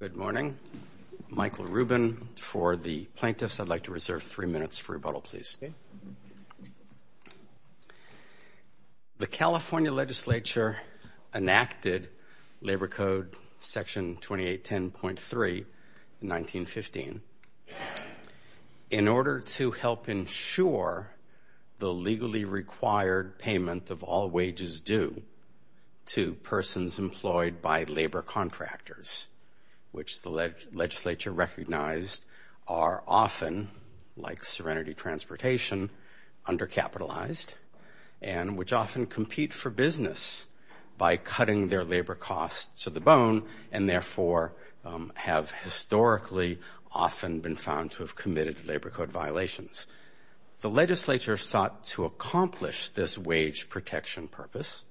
Good morning. Michael Rubin for the plaintiffs. I'd like to reserve three minutes for rebuttal, please. The California legislature enacted Labor Code Section 2810.3 in 1915 In order to help ensure the legally required payment of all wages due to persons employed by labor contractors, which the legislature recognized are often, like Serenity Transportation, undercapitalized, and which often compete for business by cutting their labor costs to the bone and therefore have historically often been found to have committed labor code violations. The legislature sought to accomplish this wage protection purpose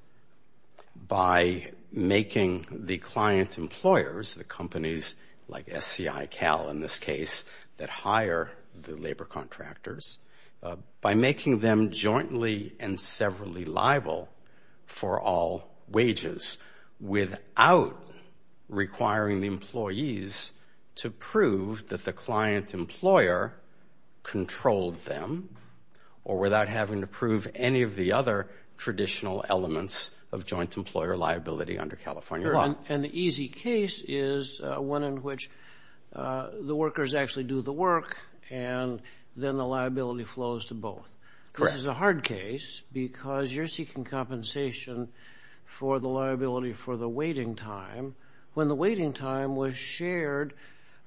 by making the client employers, the companies like SCICAL in this case, that hire the labor contractors, by making them jointly and severally liable for all wages without requiring the employees to prove that the client employer controlled them or without having to prove any of the other traditional elements of joint employer liability under California law. And the easy case is one in which the workers actually do the work and then the liability flows to both. Correct. This is a hard case because you're seeking compensation for the liability for the waiting time when the waiting time was shared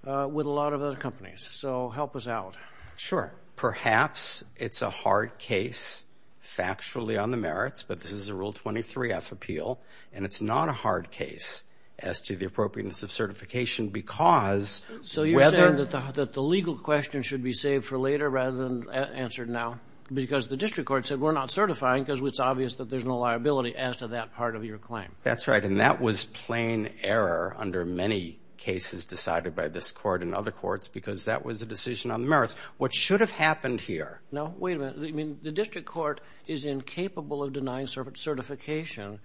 with a lot of other companies. So help us out. Sure. Perhaps it's a hard case factually on the merits, but this is a Rule 23-F appeal, and it's not a hard case as to the appropriateness of certification because whether— So you're saying that the legal question should be saved for later rather than answered now because the district court said we're not certifying because it's obvious that there's no liability as to that part of your claim. That's right, and that was plain error under many cases decided by this court and other courts because that was a decision on the merits. What should have happened here— No, wait a minute. You mean the district court is incapable of denying certification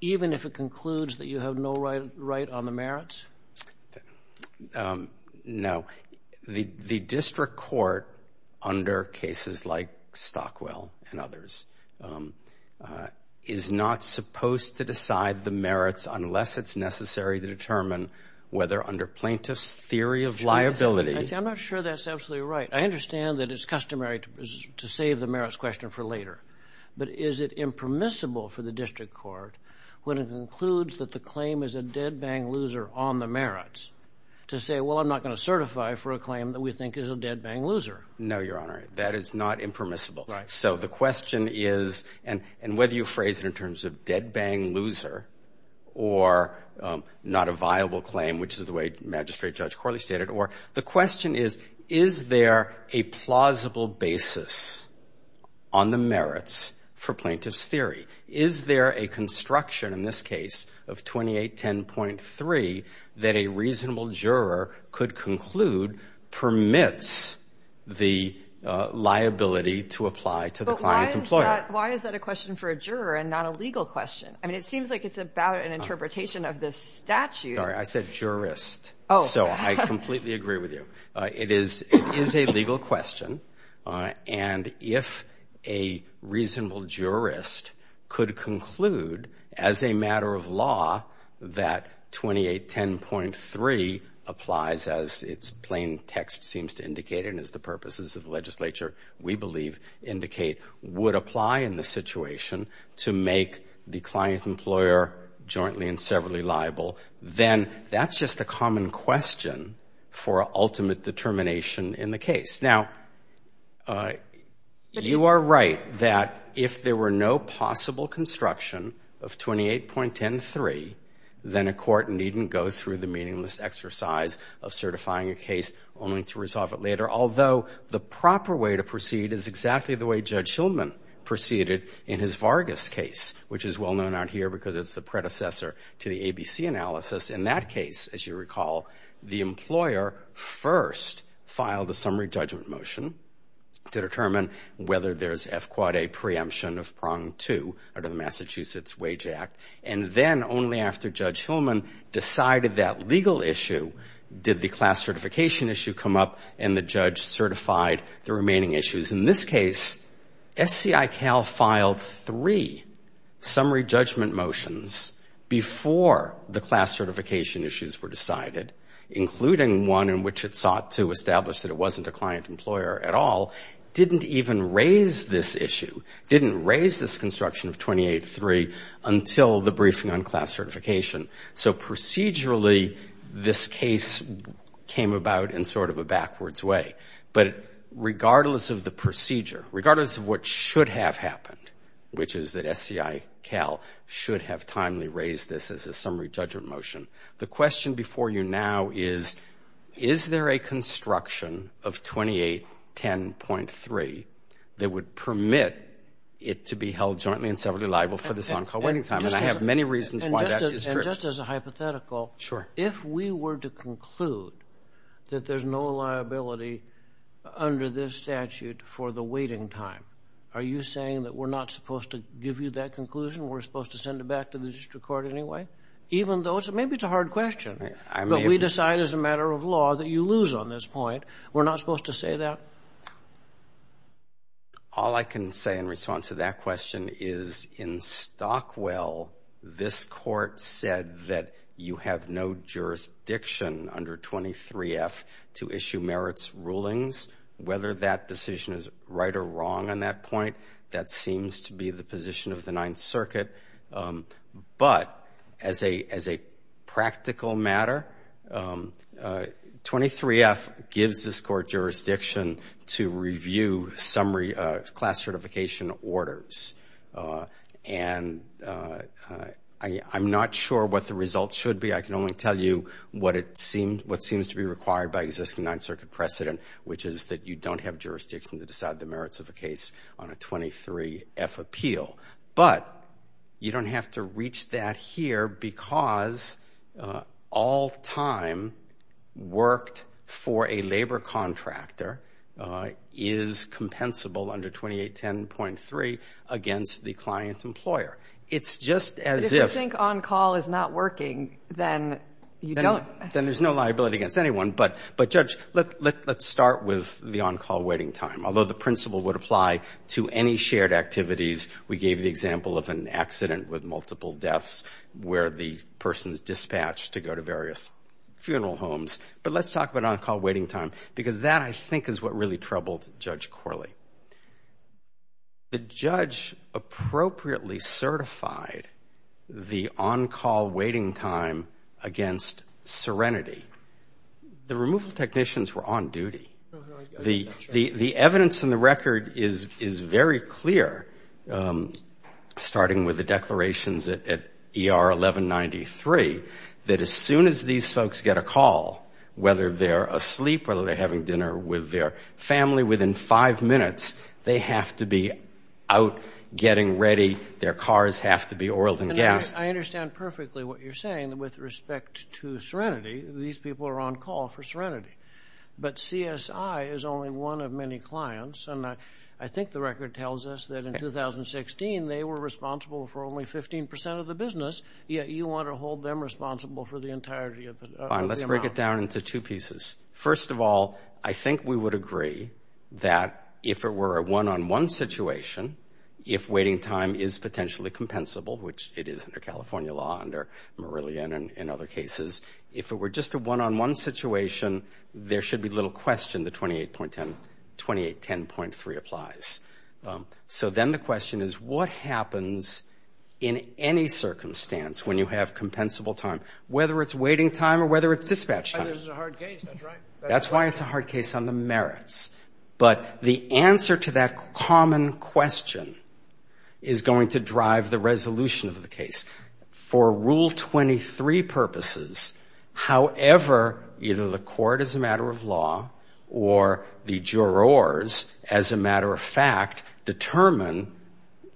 even if it concludes that you have no right on the merits? No. The district court under cases like Stockwell and others is not supposed to decide the merits unless it's necessary to determine whether under plaintiff's theory of liability— I'm not sure that's absolutely right. I understand that it's customary to save the merits question for later, but is it impermissible for the district court when it concludes that the claim is a dead-bang loser on the merits to say, well, I'm not going to certify for a claim that we think is a dead-bang loser? No, Your Honor. That is not impermissible. Right. So the question is—and whether you phrase it in terms of dead-bang loser or not a viable claim, which is the way Magistrate Judge Corley stated it—or the question is, is there a plausible basis on the merits for plaintiff's theory? Is there a construction in this case of 2810.3 that a reasonable juror could conclude permits the liability to apply to the client employer? But why is that a question for a juror and not a legal question? I mean, it seems like it's about an interpretation of this statute. Sorry, I said jurist. Oh. So I completely agree with you. It is a legal question, and if a reasonable jurist could conclude as a matter of law that 2810.3 applies, as its plain text seems to indicate and as the purposes of the legislature, we believe, indicate, would apply in the situation to make the client employer jointly and severally liable, then that's just a common question for ultimate determination in the case. Now, you are right that if there were no possible construction of 2810.3, then a court needn't go through the meaningless exercise of certifying a case only to resolve it later, although the proper way to proceed is exactly the way Judge Hillman proceeded in his Vargas case, which is well known out here because it's the predecessor to the ABC analysis. In that case, as you recall, the employer first filed a summary judgment motion to determine whether there's F-quad A preemption of prong two under the Massachusetts Wage Act, and then only after Judge Hillman decided that legal issue did the class certification issue come up and the judge certified the remaining issues. In this case, SCICAL filed three summary judgment motions before the class certification issues were decided, including one in which it sought to establish that it wasn't a client employer at all, didn't even raise this issue, didn't raise this construction of 2810.3 until the briefing on class certification. So procedurally, this case came about in sort of a backwards way. But regardless of the procedure, regardless of what should have happened, which is that SCICAL should have timely raised this as a summary judgment motion, the question before you now is, is there a construction of 2810.3 that would permit it to be held jointly and separately liable for this on-call waiting time? And I have many reasons why that is true. And just as a hypothetical, if we were to conclude that there's no liability under this statute for the waiting time, are you saying that we're not supposed to give you that conclusion? We're supposed to send it back to the district court anyway? Even though maybe it's a hard question, but we decide as a matter of law that you lose on this point. We're not supposed to say that? All I can say in response to that question is in Stockwell, this court said that you have no jurisdiction under 23F to issue merits rulings. Whether that decision is right or wrong on that point, that seems to be the position of the Ninth Circuit. But as a practical matter, 23F gives this court jurisdiction to review summary class certification orders. And I'm not sure what the results should be. I can only tell you what seems to be required by existing Ninth Circuit precedent, which is that you don't have jurisdiction to decide the merits of a case on a 23F appeal. But you don't have to reach that here because all time worked for a labor contractor is compensable under 2810.3 against the client employer. It's just as if you think on-call is not working, then you don't. Then there's no liability against anyone. But, Judge, let's start with the on-call waiting time. Although the principle would apply to any shared activities, we gave the example of an accident with multiple deaths where the person is dispatched to go to various funeral homes. But let's talk about on-call waiting time because that, I think, is what really troubled Judge Corley. The judge appropriately certified the on-call waiting time against Serenity. The removal technicians were on duty. The evidence in the record is very clear, starting with the declarations at ER 1193, that as soon as these folks get a call, whether they're asleep, whether they're having dinner with their family, within five minutes they have to be out getting ready. Their cars have to be oiled and gassed. I understand perfectly what you're saying with respect to Serenity. These people are on-call for Serenity. But CSI is only one of many clients. And I think the record tells us that in 2016 they were responsible for only 15% of the business, yet you want to hold them responsible for the entirety of the amount. Fine. Let's break it down into two pieces. First of all, I think we would agree that if it were a one-on-one situation, if waiting time is potentially compensable, which it is under California law, under Marillion and other cases, if it were just a one-on-one situation, there should be little question the 2810.3 applies. So then the question is, what happens in any circumstance when you have compensable time, whether it's waiting time or whether it's dispatch time? That's why this is a hard case. That's right. That's why it's a hard case on the merits. But the answer to that common question is going to drive the resolution of the case. For Rule 23 purposes, however, either the court as a matter of law or the jurors, as a matter of fact, determine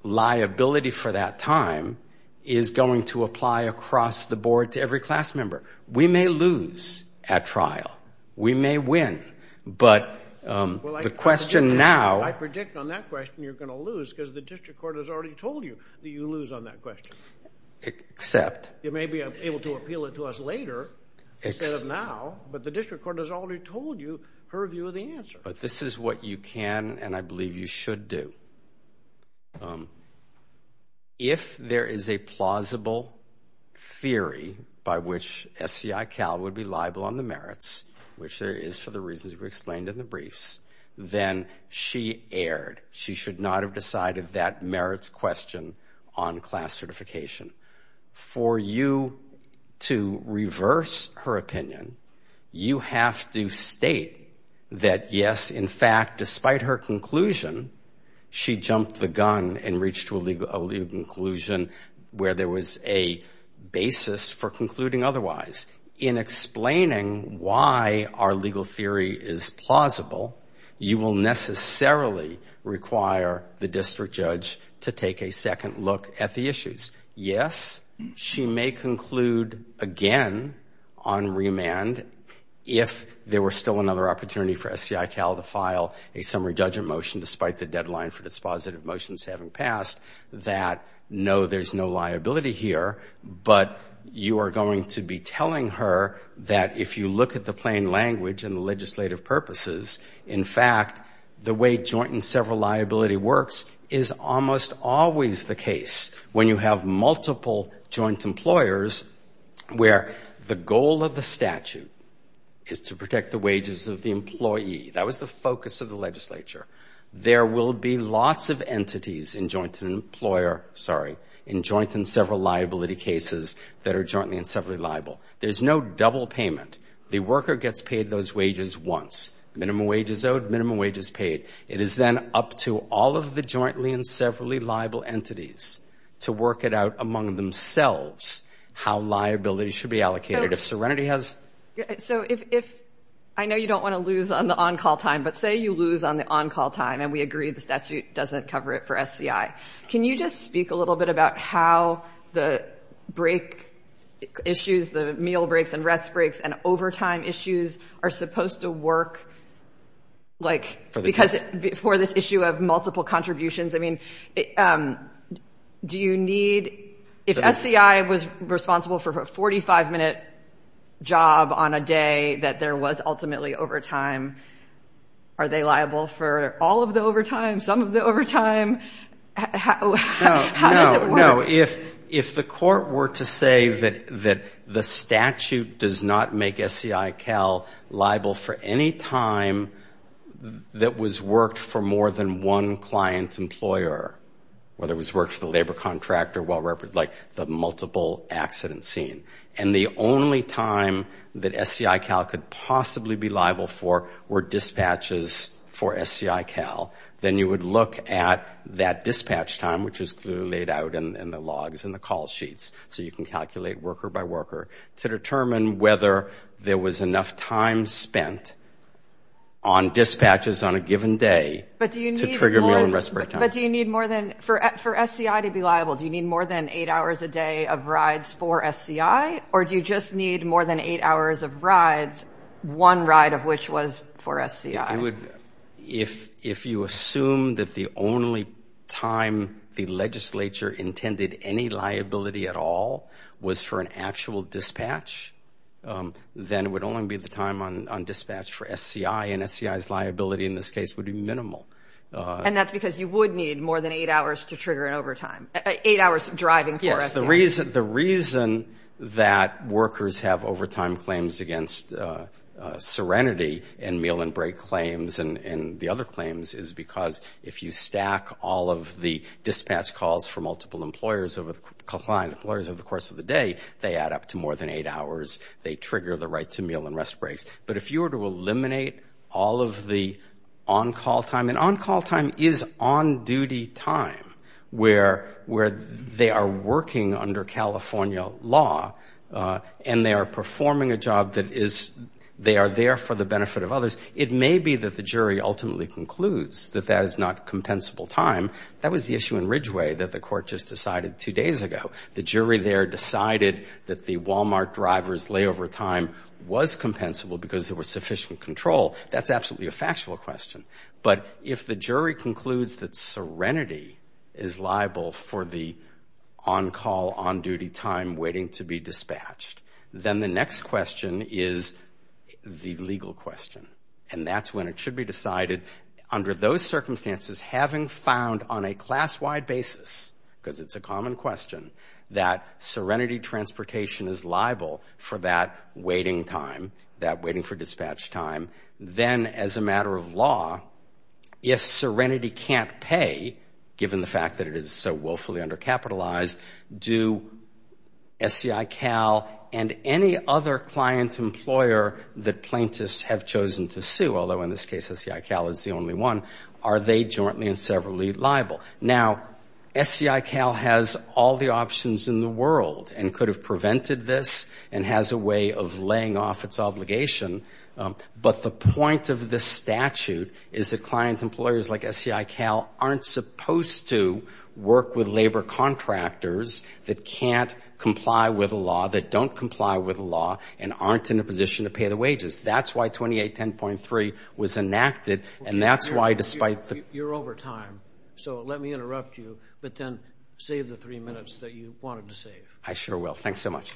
liability for that time is going to apply across the board to every class member. We may lose at trial. We may win. But the question now – I predict on that question you're going to lose because the district court has already told you that you lose on that question. Except – You may be able to appeal it to us later instead of now, but the district court has already told you her view of the answer. But this is what you can and I believe you should do. If there is a plausible theory by which SCI Cal would be liable on the merits, which there is for the reasons we explained in the briefs, then she erred. She should not have decided that merits question on class certification. For you to reverse her opinion, you have to state that, yes, in fact, despite her conclusion, she jumped the gun and reached a legal conclusion where there was a basis for concluding otherwise. In explaining why our legal theory is plausible, you will necessarily require the district judge to take a second look at the issues. Yes, she may conclude again on remand if there were still another opportunity for SCI Cal to file a summary judgment motion despite the deadline for dispositive motions having passed that, no, there's no liability here, but you are going to be telling her that if you look at the plain language and the legislative purposes, in fact, the way joint and several liability works is almost always the case when you have multiple joint employers where the goal of the statute is to protect the wages of the employee. That was the focus of the legislature. There will be lots of entities in joint and employer, sorry, in joint and several liability cases that are jointly and severally liable. There's no double payment. The worker gets paid those wages once. Minimum wage is owed. Minimum wage is paid. It is then up to all of the jointly and severally liable entities to work it out among themselves how liability should be allocated. If Serenity has- So if I know you don't want to lose on the on-call time, but say you lose on the on-call time and we agree the statute doesn't cover it for SCI, can you just speak a little bit about how the break issues, the meal breaks and rest breaks and overtime issues are supposed to work, like, because for this issue of multiple contributions, I mean, do you need- If the SCI was responsible for a 45-minute job on a day that there was ultimately overtime, are they liable for all of the overtime, some of the overtime? How does it work? No, no. If the court were to say that the statute does not make SCI-Cal liable for any time that was worked for more than one client whether it was worked for the labor contractor, like the multiple accident scene, and the only time that SCI-Cal could possibly be liable for were dispatches for SCI-Cal, then you would look at that dispatch time, which is clearly laid out in the logs and the call sheets, so you can calculate worker by worker to determine whether there was enough time spent on dispatches on a given day- But do you need more than- For SCI to be liable, do you need more than eight hours a day of rides for SCI, or do you just need more than eight hours of rides, one ride of which was for SCI? If you assume that the only time the legislature intended any liability at all was for an actual dispatch, then it would only be the time on dispatch for SCI, and SCI's liability in this case would be minimal. And that's because you would need more than eight hours to trigger an overtime, eight hours driving for SCI. Yes, the reason that workers have overtime claims against serenity in meal and break claims and the other claims is because if you stack all of the dispatch calls for multiple employers over the course of the day, they add up to more than eight hours, they trigger the right to meal and rest breaks. But if you were to eliminate all of the on-call time, and on-call time is on-duty time where they are working under California law and they are performing a job that is- they are there for the benefit of others. It may be that the jury ultimately concludes that that is not compensable time. That was the issue in Ridgeway that the court just decided two days ago. The jury there decided that the Walmart driver's layover time was compensable because there was sufficient control. That's absolutely a factual question. But if the jury concludes that serenity is liable for the on-call, on-duty time waiting to be dispatched, then the next question is the legal question. And that's when it should be decided, under those circumstances, having found on a class-wide basis, because it's a common question, that serenity transportation is liable for that waiting time, that waiting for dispatch time. Then, as a matter of law, if serenity can't pay, given the fact that it is so willfully undercapitalized, do SCICAL and any other client employer that plaintiffs have chosen to sue, although in this case SCICAL is the only one, are they jointly and severally liable? Now, SCICAL has all the options in the world and could have prevented this and has a way of laying off its obligation. But the point of this statute is that client employers like SCICAL aren't supposed to work with labor contractors that can't comply with a law, that don't comply with a law, and aren't in a position to pay the wages. That's why 2810.3 was enacted, and that's why, despite the ---- You're over time, so let me interrupt you, but then save the three minutes that you wanted to save. I sure will. Thanks so much.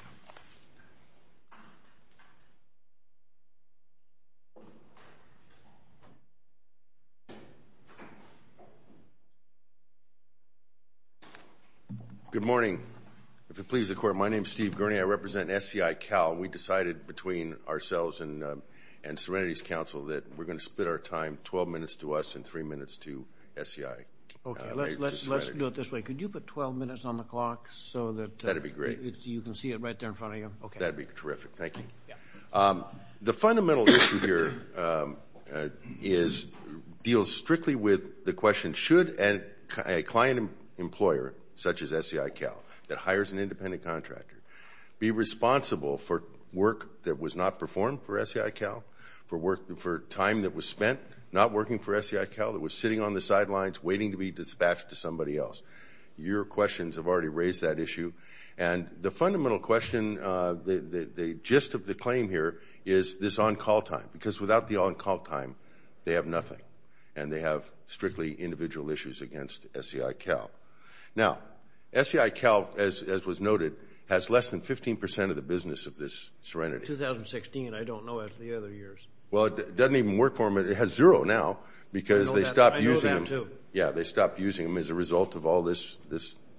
Good morning. If it pleases the Court, my name is Steve Gurney. I represent SCICAL, and we decided between ourselves and Serenity's counsel that we're going to split our time 12 minutes to us and three minutes to SCICAL. Let's do it this way. Could you put 12 minutes on the clock so that you can see it right there in front of you? That would be terrific. Thank you. The fundamental issue here deals strictly with the question, should a client employer such as SCICAL that hires an independent contractor be responsible for work that was not performed for SCICAL, for time that was spent not working for SCICAL, that was sitting on the sidelines waiting to be dispatched to somebody else? Your questions have already raised that issue, and the fundamental question, the gist of the claim here is this on-call time, because without the on-call time, they have nothing, and they have strictly individual issues against SCICAL. Now, SCICAL, as was noted, has less than 15 percent of the business of this Serenity. 2016, I don't know of the other years. Well, it doesn't even work for them. It has zero now because they stopped using them. I know of them, too. Yeah, they stopped using them as a result of all this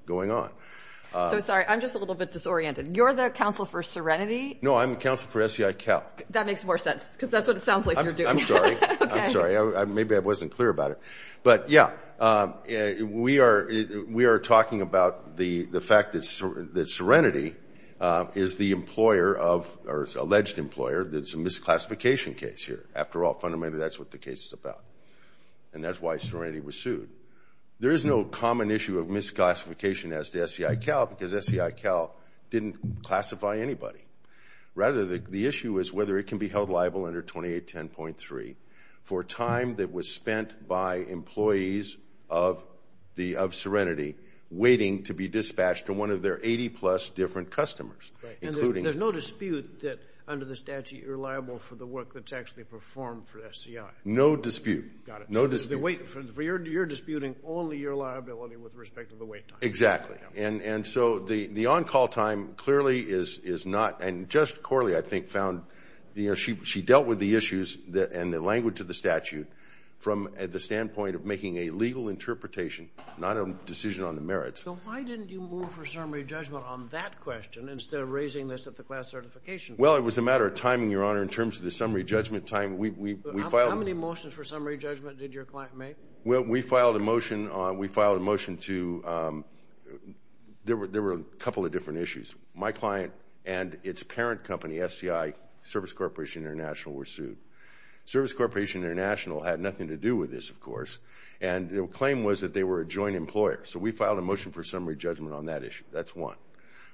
going on. So, sorry, I'm just a little bit disoriented. You're the counsel for Serenity? No, I'm the counsel for SCICAL. That makes more sense because that's what it sounds like you're doing. I'm sorry. Okay. I'm sorry. Maybe I wasn't clear about it. But, yeah, we are talking about the fact that Serenity is the employer of or is alleged employer that's a misclassification case here. After all, fundamentally, that's what the case is about, and that's why Serenity was sued. There is no common issue of misclassification as to SCICAL because SCICAL didn't classify anybody. Rather, the issue is whether it can be held liable under 2810.3 for time that was spent by employees of Serenity waiting to be dispatched to one of their 80-plus different customers. Right. And there's no dispute that under the statute you're liable for the work that's actually performed for SCI? No dispute. Got it. No dispute. So you're disputing only your liability with respect to the wait time. Exactly. And so the on-call time clearly is not. And just Corley, I think, found she dealt with the issues and the language of the statute from the standpoint of making a legal interpretation, not a decision on the merits. So why didn't you move for summary judgment on that question instead of raising this at the class certification? Well, it was a matter of timing, Your Honor, in terms of the summary judgment time. How many motions for summary judgment did your client make? Well, we filed a motion to – there were a couple of different issues. My client and its parent company, SCI, Service Corporation International, were sued. Service Corporation International had nothing to do with this, of course, and their claim was that they were a joint employer. So we filed a motion for summary judgment on that issue. That's one.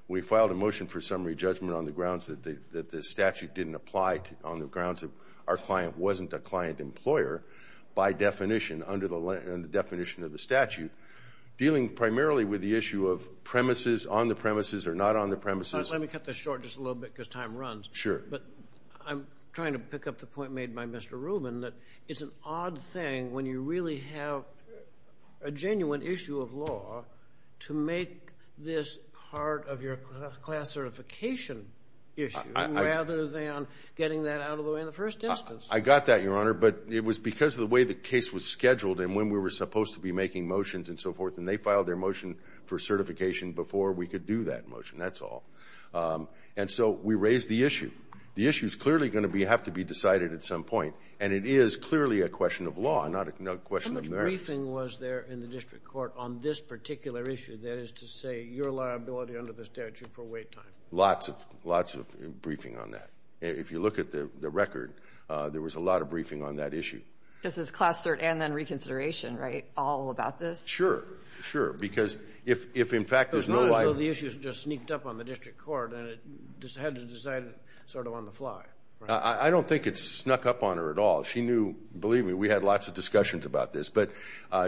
We filed a motion for summary judgment on the grounds that the statute didn't apply on the grounds that our client wasn't a client employer by definition under the definition of the statute, dealing primarily with the issue of premises, on the premises or not on the premises. Let me cut this short just a little bit because time runs. Sure. But I'm trying to pick up the point made by Mr. Rubin that it's an odd thing when you really have a genuine issue of law to make this part of your class certification issue rather than getting that out of the way in the first instance. I got that, Your Honor. But it was because of the way the case was scheduled and when we were supposed to be making motions and so forth, and they filed their motion for certification before we could do that motion. That's all. And so we raised the issue. The issue is clearly going to have to be decided at some point, and it is clearly a question of law, not a question of merits. How much briefing was there in the district court on this particular issue, that is to say your liability under the statute for wait time? Lots of briefing on that. If you look at the record, there was a lot of briefing on that issue. This is class cert and then reconsideration, right, all about this? Sure. Sure. Because if in fact there's no liability. So the issue just sneaked up on the district court and it had to be decided sort of on the fly. I don't think it snuck up on her at all. She knew, believe me, we had lots of discussions about this, but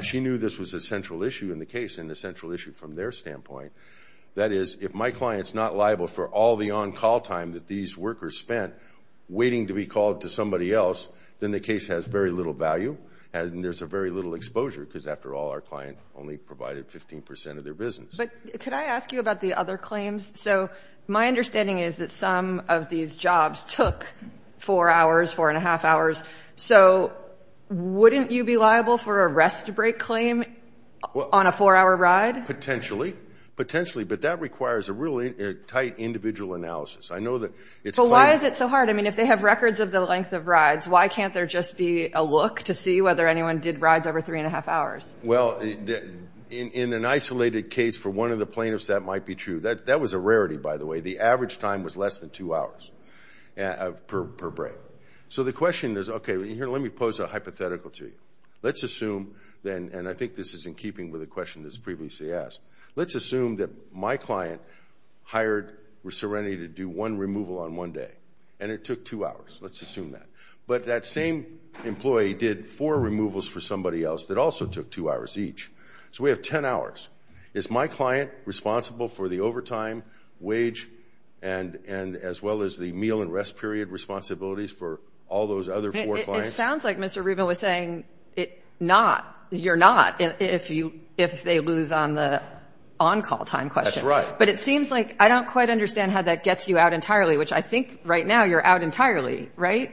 she knew this was a central issue in the case and a central issue from their standpoint. That is, if my client's not liable for all the on-call time that these workers spent waiting to be called to somebody else, then the case has very little value and there's very little exposure because, after all, our client only provided 15% of their business. But could I ask you about the other claims? So my understanding is that some of these jobs took four hours, four and a half hours. So wouldn't you be liable for a rest-break claim on a four-hour ride? Potentially. Potentially. But that requires a really tight individual analysis. I know that it's part of it. So why is it so hard? I mean, if they have records of the length of rides, why can't there just be a look to see whether anyone did rides over three and a half hours? Well, in an isolated case for one of the plaintiffs, that might be true. That was a rarity, by the way. The average time was less than two hours per break. So the question is, okay, here, let me pose a hypothetical to you. Let's assume then, and I think this is in keeping with a question that was previously asked, let's assume that my client hired Serenity to do one removal on one day, and it took two hours. Let's assume that. But that same employee did four removals for somebody else that also took two hours each. So we have 10 hours. Is my client responsible for the overtime, wage, and as well as the meal and rest period responsibilities for all those other four clients? It sounds like Mr. Rubin was saying not, you're not, if they lose on the on-call time question. That's right. But it seems like I don't quite understand how that gets you out entirely, which I think right now you're out entirely. Right?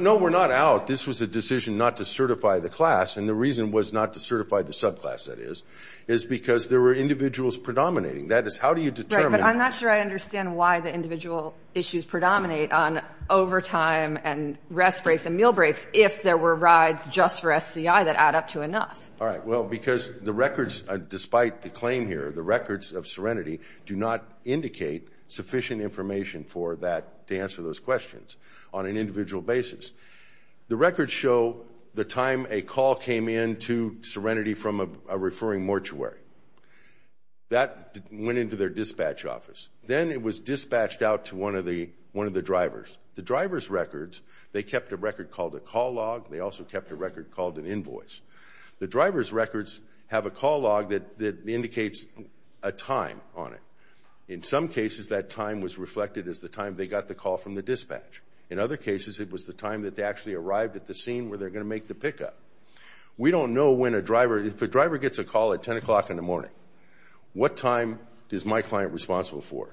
No, we're not out. This was a decision not to certify the class, and the reason was not to certify the subclass, that is, is because there were individuals predominating. That is, how do you determine? Mr. Rubin, I'm not sure I understand why the individual issues predominate on overtime and rest breaks and meal breaks if there were rides just for SCI that add up to enough. All right, well, because the records, despite the claim here, the records of Serenity do not indicate sufficient information for that to answer those questions on an individual basis. The records show the time a call came in to Serenity from a referring mortuary. That went into their dispatch office. Then it was dispatched out to one of the drivers. The driver's records, they kept a record called a call log. They also kept a record called an invoice. The driver's records have a call log that indicates a time on it. In some cases, that time was reflected as the time they got the call from the dispatch. In other cases, it was the time that they actually arrived at the scene where they're going to make the pickup. We don't know when a driver, if a driver gets a call at 10 o'clock in the morning, what time is my client responsible for?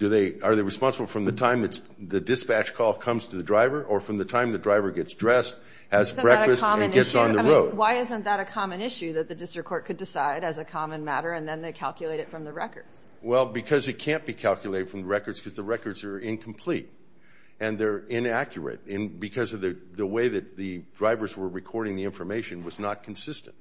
Are they responsible from the time the dispatch call comes to the driver or from the time the driver gets dressed, has breakfast, and gets on the road? Why isn't that a common issue that the district court could decide as a common matter and then they calculate it from the records? Well, because it can't be calculated from the records because the records are incomplete and they're inaccurate because the way that the drivers were recording the information was not consistent.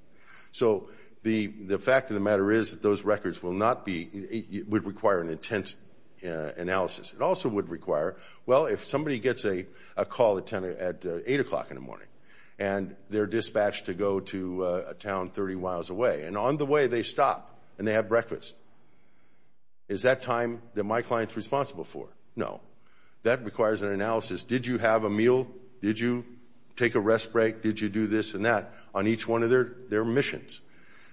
So the fact of the matter is that those records would require an intense analysis. It also would require, well, if somebody gets a call at 8 o'clock in the morning and they're dispatched to go to a town 30 miles away, and on the way they stop and they have breakfast, is that time that my client's responsible for? No. That requires an analysis. Did you have a meal? Did you take a rest break? Did you do this and that on each one of their missions?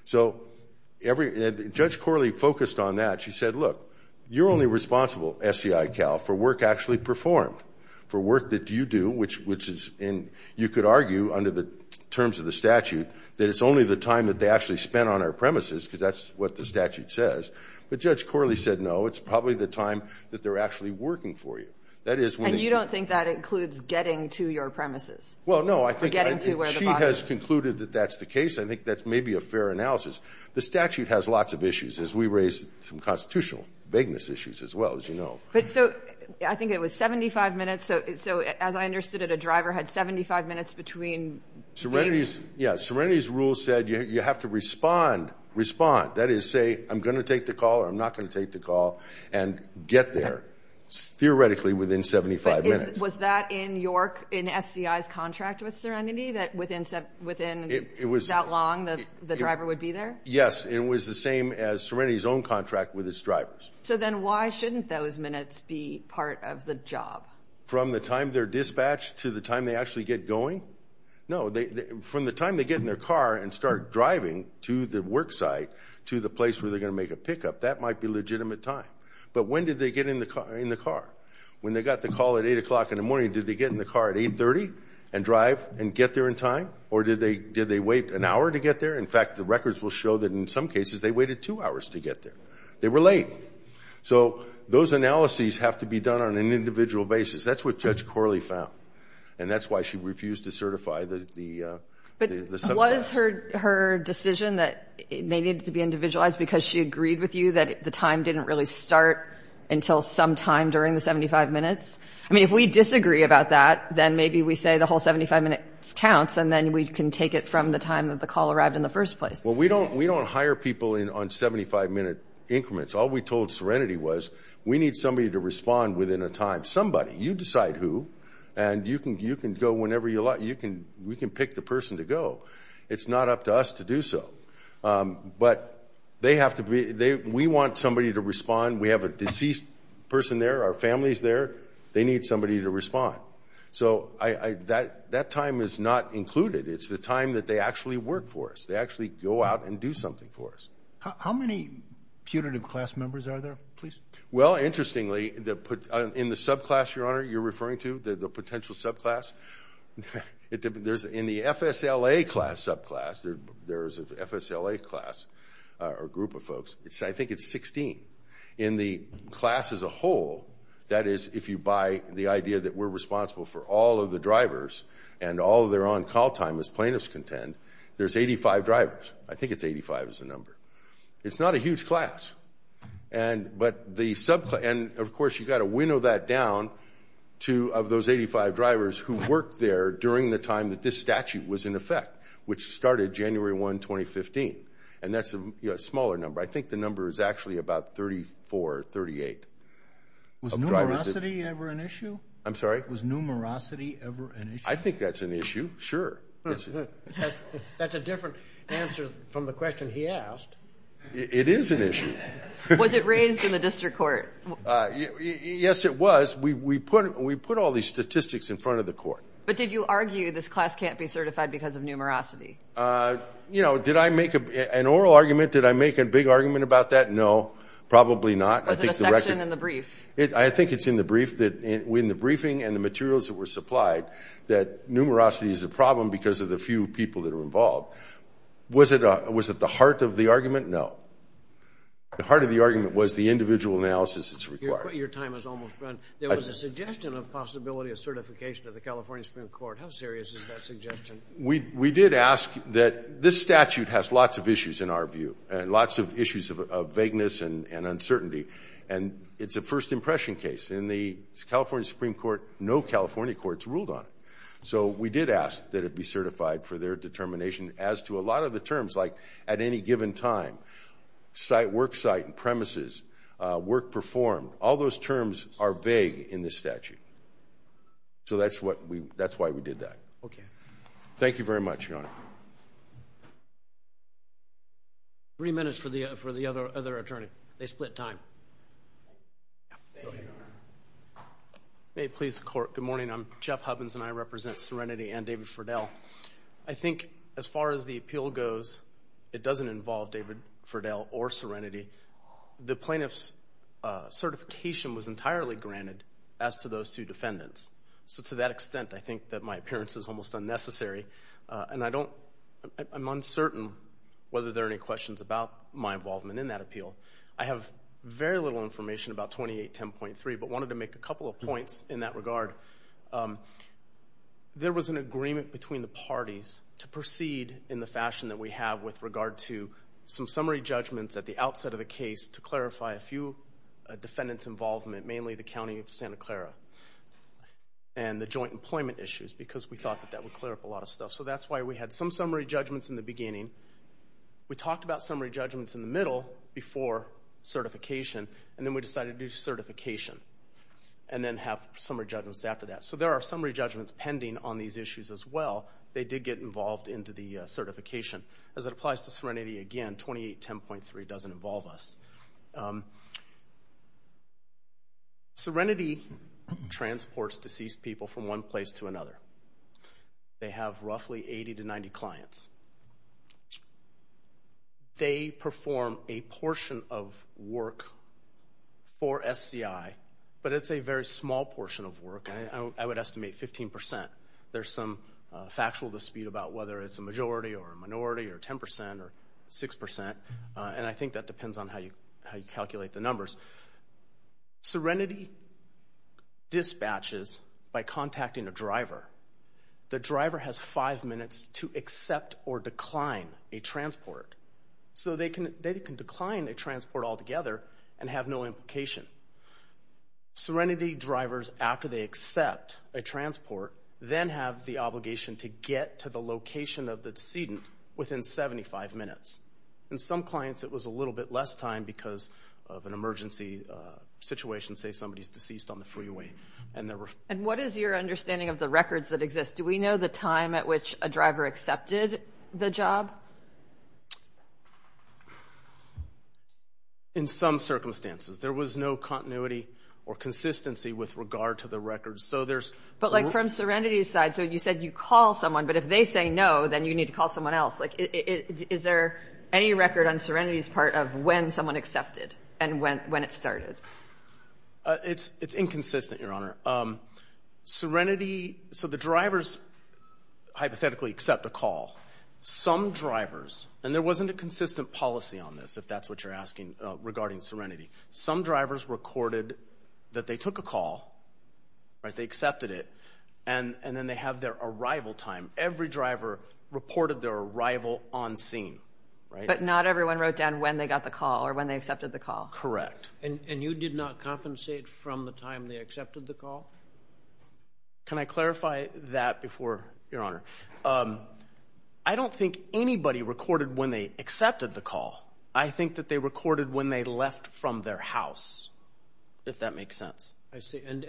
So Judge Corley focused on that. She said, look, you're only responsible, SCICAL, for work actually performed, for work that you do, which you could argue under the terms of the statute that it's only the time that they actually spent on our premises because that's what the statute says. But Judge Corley said, no, it's probably the time that they're actually working for you. And you don't think that includes getting to your premises? Well, no. She has concluded that that's the case. I think that's maybe a fair analysis. The statute has lots of issues, as we raise some constitutional vagueness issues as well, as you know. I think it was 75 minutes. So as I understood it, a driver had 75 minutes between the meeting. Yeah. Serenity's rule said you have to respond, respond. That is, say, I'm going to take the call or I'm not going to take the call, and get there theoretically within 75 minutes. Was that in SCI's contract with Serenity, that within that long the driver would be there? Yes. It was the same as Serenity's own contract with its drivers. So then why shouldn't those minutes be part of the job? From the time they're dispatched to the time they actually get going? No. From the time they get in their car and start driving to the work site, to the place where they're going to make a pickup, that might be legitimate time. But when did they get in the car? When they got the call at 8 o'clock in the morning, did they get in the car at 830 and drive and get there in time? Or did they wait an hour to get there? In fact, the records will show that in some cases they waited two hours to get there. They were late. So those analyses have to be done on an individual basis. That's what Judge Corley found. And that's why she refused to certify the 75. But was her decision that they needed to be individualized because she agreed with you that the time didn't really start until sometime during the 75 minutes? I mean, if we disagree about that, then maybe we say the whole 75 minutes counts, and then we can take it from the time that the call arrived in the first place. Well, we don't hire people on 75-minute increments. All we told Serenity was we need somebody to respond within a time. We want somebody. You decide who, and you can go whenever you like. We can pick the person to go. It's not up to us to do so. But we want somebody to respond. We have a deceased person there. Our family is there. They need somebody to respond. So that time is not included. It's the time that they actually work for us. They actually go out and do something for us. How many punitive class members are there, please? Well, interestingly, in the subclass, Your Honor, you're referring to, the potential subclass, in the FSLA class subclass, there's an FSLA class or group of folks, I think it's 16. In the class as a whole, that is if you buy the idea that we're responsible for all of the drivers and all of their on-call time, as plaintiffs contend, there's 85 drivers. I think it's 85 is the number. It's not a huge class. But the subclass, and, of course, you've got to winnow that down to of those 85 drivers who worked there during the time that this statute was in effect, which started January 1, 2015. And that's a smaller number. I think the number is actually about 34 or 38. Was numerosity ever an issue? I'm sorry? Was numerosity ever an issue? I think that's an issue, sure. That's a different answer from the question he asked. It is an issue. Was it raised in the district court? Yes, it was. We put all these statistics in front of the court. But did you argue this class can't be certified because of numerosity? You know, did I make an oral argument? Did I make a big argument about that? No, probably not. Was it a section in the brief? I think it's in the briefing and the materials that were supplied that numerosity is a problem because of the few people that are involved. Was it the heart of the argument? No. The heart of the argument was the individual analysis that's required. Your time has almost run. There was a suggestion of possibility of certification of the California Supreme Court. How serious is that suggestion? We did ask that this statute has lots of issues, in our view, and lots of issues of vagueness and uncertainty. And it's a first impression case. In the California Supreme Court, no California court's ruled on it. So we did ask that it be certified for their determination as to a lot of the terms, like at any given time, site, worksite, and premises, work performed. All those terms are vague in this statute. So that's why we did that. Okay. Thank you very much, Your Honor. Three minutes for the other attorney. Go ahead, Your Honor. May it please the Court. Good morning. I'm Jeff Hubbins, and I represent Serenity and David Ferdell. I think as far as the appeal goes, it doesn't involve David Ferdell or Serenity. The plaintiff's certification was entirely granted as to those two defendants. So to that extent, I think that my appearance is almost unnecessary, and I'm uncertain whether there are any questions about my involvement in that appeal. I have very little information about 2810.3, but wanted to make a couple of points in that regard. There was an agreement between the parties to proceed in the fashion that we have with regard to some summary judgments at the outset of the case to clarify a few defendants' involvement, mainly the County of Santa Clara and the joint employment issues, because we thought that that would clear up a lot of stuff. So that's why we had some summary judgments in the beginning. We talked about summary judgments in the middle before certification, and then we decided to do certification and then have summary judgments after that. So there are summary judgments pending on these issues as well. They did get involved into the certification. As it applies to Serenity again, 2810.3 doesn't involve us. Serenity transports deceased people from one place to another. They have roughly 80 to 90 clients. They perform a portion of work for SCI, but it's a very small portion of work. I would estimate 15%. There's some factual dispute about whether it's a majority or a minority or 10% or 6%, and I think that depends on how you calculate the numbers. The driver has five minutes to accept or decline a transport. So they can decline a transport altogether and have no implication. Serenity drivers, after they accept a transport, then have the obligation to get to the location of the decedent within 75 minutes. In some clients, it was a little bit less time because of an emergency situation, say somebody's deceased on the freeway. And what is your understanding of the records that exist? Do we know the time at which a driver accepted the job? In some circumstances. There was no continuity or consistency with regard to the records. But, like, from Serenity's side, so you said you call someone, but if they say no, then you need to call someone else. Is there any record on Serenity's part of when someone accepted and when it started? It's inconsistent, Your Honor. Serenity, so the drivers hypothetically accept a call. Some drivers, and there wasn't a consistent policy on this, if that's what you're asking regarding Serenity. Some drivers recorded that they took a call, right, they accepted it, and then they have their arrival time. Every driver reported their arrival on scene, right? But not everyone wrote down when they got the call or when they accepted the call. Correct. And you did not compensate from the time they accepted the call? Can I clarify that before, Your Honor? I don't think anybody recorded when they accepted the call. I think that they recorded when they left from their house, if that makes sense. I see. And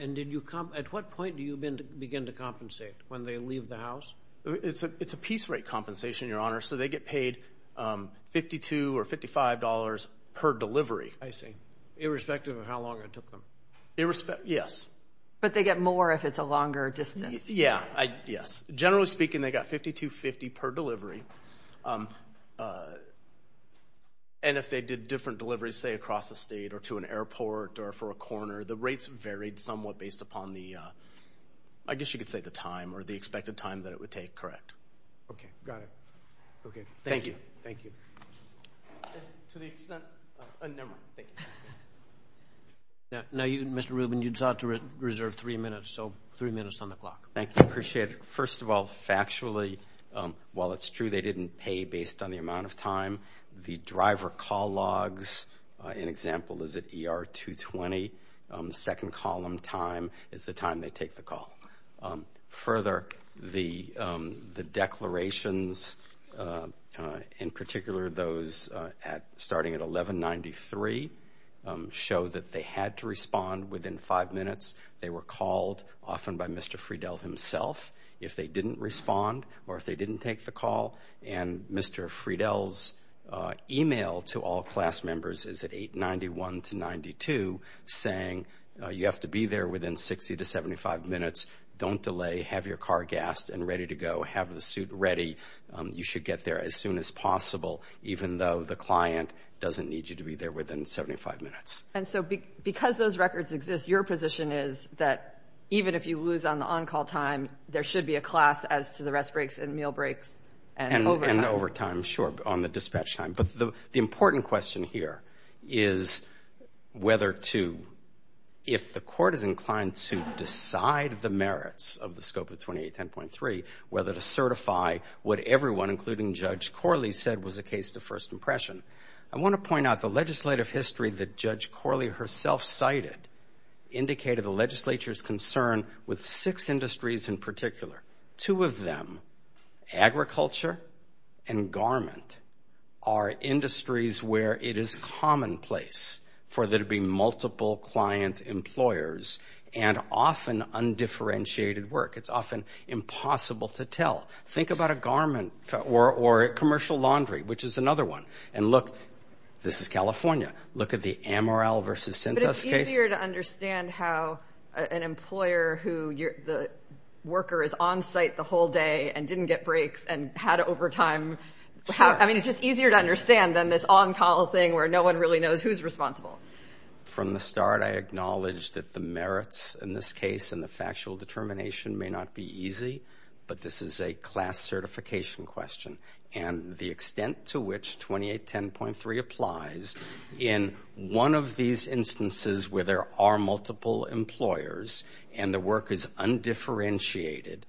at what point do you begin to compensate, when they leave the house? It's a piece rate compensation, Your Honor, so they get paid $52 or $55 per delivery. I see, irrespective of how long it took them. Yes. But they get more if it's a longer distance? Yes. Generally speaking, they got $52.50 per delivery. And if they did different deliveries, say, across the state or to an airport or for a corner, the rates varied somewhat based upon the, I guess you could say, the time or the expected time that it would take, correct? Okay. Got it. Okay. Thank you. Thank you. To the extent. Never mind. Thank you. Now, Mr. Rubin, you sought to reserve three minutes, so three minutes on the clock. Thank you. I appreciate it. First of all, factually, while it's true they didn't pay based on the amount of time, the driver call logs, an example is at ER 220, the second column time is the time they take the call. Further, the declarations, in particular those starting at 1193, show that they had to respond within five minutes. They were called often by Mr. Friedel himself if they didn't respond or if they didn't take the call. And Mr. Friedel's email to all class members is at 891 to 92 saying, you have to be there within 60 to 75 minutes. Don't delay. Have your car gassed and ready to go. Have the suit ready. You should get there as soon as possible, even though the client doesn't need you to be there within 75 minutes. And so because those records exist, your position is that even if you lose on the on-call time, there should be a class as to the rest breaks and meal breaks and overtime. And overtime, sure, on the dispatch time. But the important question here is whether to, if the court is inclined to decide the merits of the scope of 2810.3, whether to certify what everyone, including Judge Corley, said was a case to first impression. I want to point out the legislative history that Judge Corley herself cited indicated the legislature's concern with six industries in particular. Two of them, agriculture and garment, are industries where it is commonplace for there to be multiple client employers and often undifferentiated work. It's often impossible to tell. Think about a garment or commercial laundry, which is another one. And look, this is California. Look at the Amaral versus Cintas case. It's easier to understand how an employer who, the worker is on site the whole day and didn't get breaks and had overtime. I mean, it's just easier to understand than this on-call thing where no one really knows who's responsible. From the start, I acknowledge that the merits in this case and the factual determination may not be easy, but this is a class certification question. And the extent to which 2810.3 applies in one of these instances where there are multiple employers and the work is undifferentiated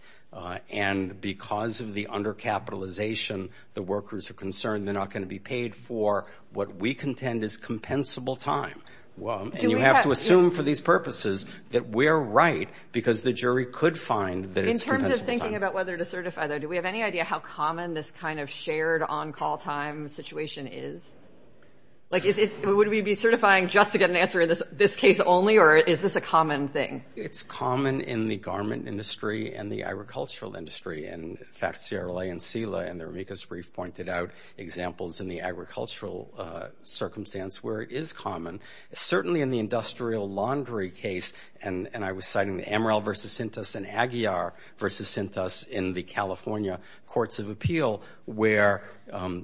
and because of the undercapitalization, the workers are concerned they're not going to be paid for what we contend is compensable time. And you have to assume for these purposes that we're right because the jury could find that it's compensable time. In terms of thinking about whether to certify, though, do we have any idea how common this kind of shared on-call time situation is? Like, would we be certifying just to get an answer in this case only or is this a common thing? It's common in the garment industry and the agricultural industry. In fact, Sierra Leone and CELA in their amicus brief pointed out examples in the agricultural circumstance where it is common. Certainly in the industrial laundry case, and I was citing the Amaral v. Sintas and Aguiar v. Sintas in the California courts of appeal where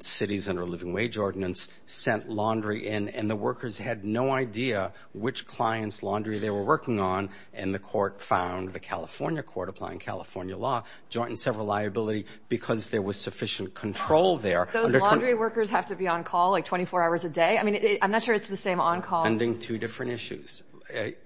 cities under a living wage ordinance sent laundry in and the workers had no idea which clients' laundry they were working on and the court found the California court applying California law joint and several liability because there was sufficient control there. Those laundry workers have to be on-call like 24 hours a day? I mean, I'm not sure it's the same on-call. Two different issues.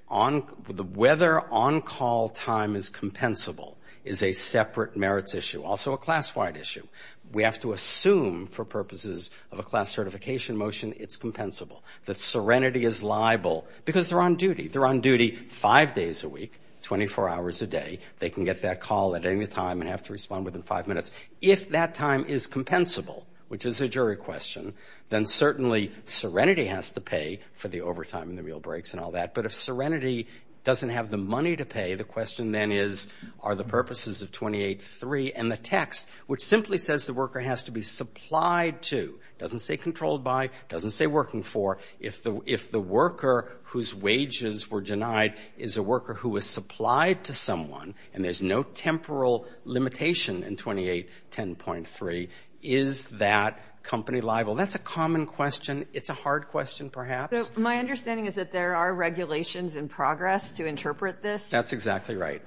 Whether on-call time is compensable is a separate merits issue, also a class-wide issue. We have to assume for purposes of a class certification motion it's compensable, that serenity is liable because they're on duty. They're on duty five days a week, 24 hours a day. They can get that call at any time and have to respond within five minutes. If that time is compensable, which is a jury question, then certainly serenity has to pay for the overtime and the meal breaks and all that, but if serenity doesn't have the money to pay, the question then is, are the purposes of 28.3 and the text, which simply says the worker has to be supplied to, doesn't say controlled by, doesn't say working for, if the worker whose wages were denied is a worker who was supplied to someone and there's no temporal limitation in 28.10.3, is that company liable? That's a common question. It's a hard question, perhaps. My understanding is that there are regulations in progress to interpret this. That's exactly right.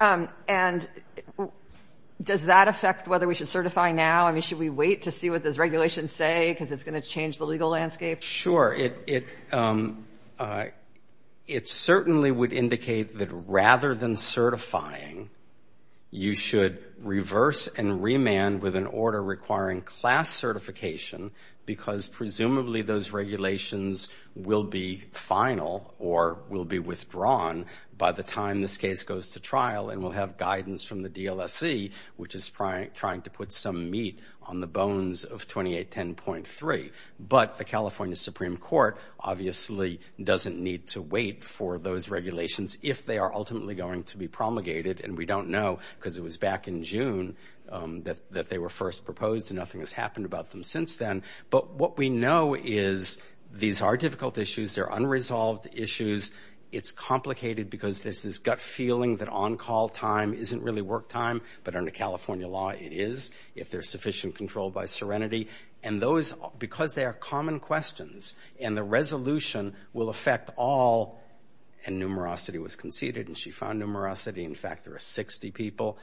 And does that affect whether we should certify now? I mean, should we wait to see what those regulations say, because it's going to change the legal landscape? Sure. It certainly would indicate that rather than certifying, you should reverse and remand with an order requiring class certification because presumably those regulations will be final or will be withdrawn by the time this case goes to trial and we'll have guidance from the DLSC, which is trying to put some meat on the bones of 28.10.3. But the California Supreme Court obviously doesn't need to wait for those regulations if they are ultimately going to be promulgated, and we don't know because it was back in June that they were first proposed and nothing has happened about them since then. But what we know is these are difficult issues. They're unresolved issues. It's complicated because there's this gut feeling that on-call time isn't really work time, but under California law, it is if there's sufficient control by serenity. And those, because they are common questions, and the resolution will affect all, and numerosity was conceded, and she found numerosity. In fact, there are 60 people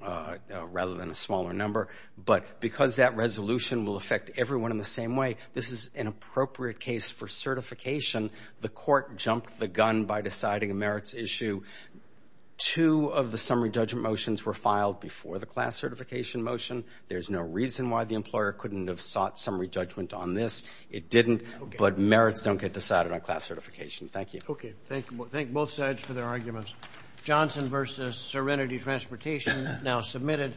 rather than a smaller number. But because that resolution will affect everyone in the same way, this is an appropriate case for certification. The court jumped the gun by deciding a merits issue. Two of the summary judgment motions were filed before the class certification motion. There's no reason why the employer couldn't have sought summary judgment on this. It didn't, but merits don't get decided on class certification. Thank you. Okay. Thank both sides for their arguments. Johnson versus Serenity Transportation now submitted.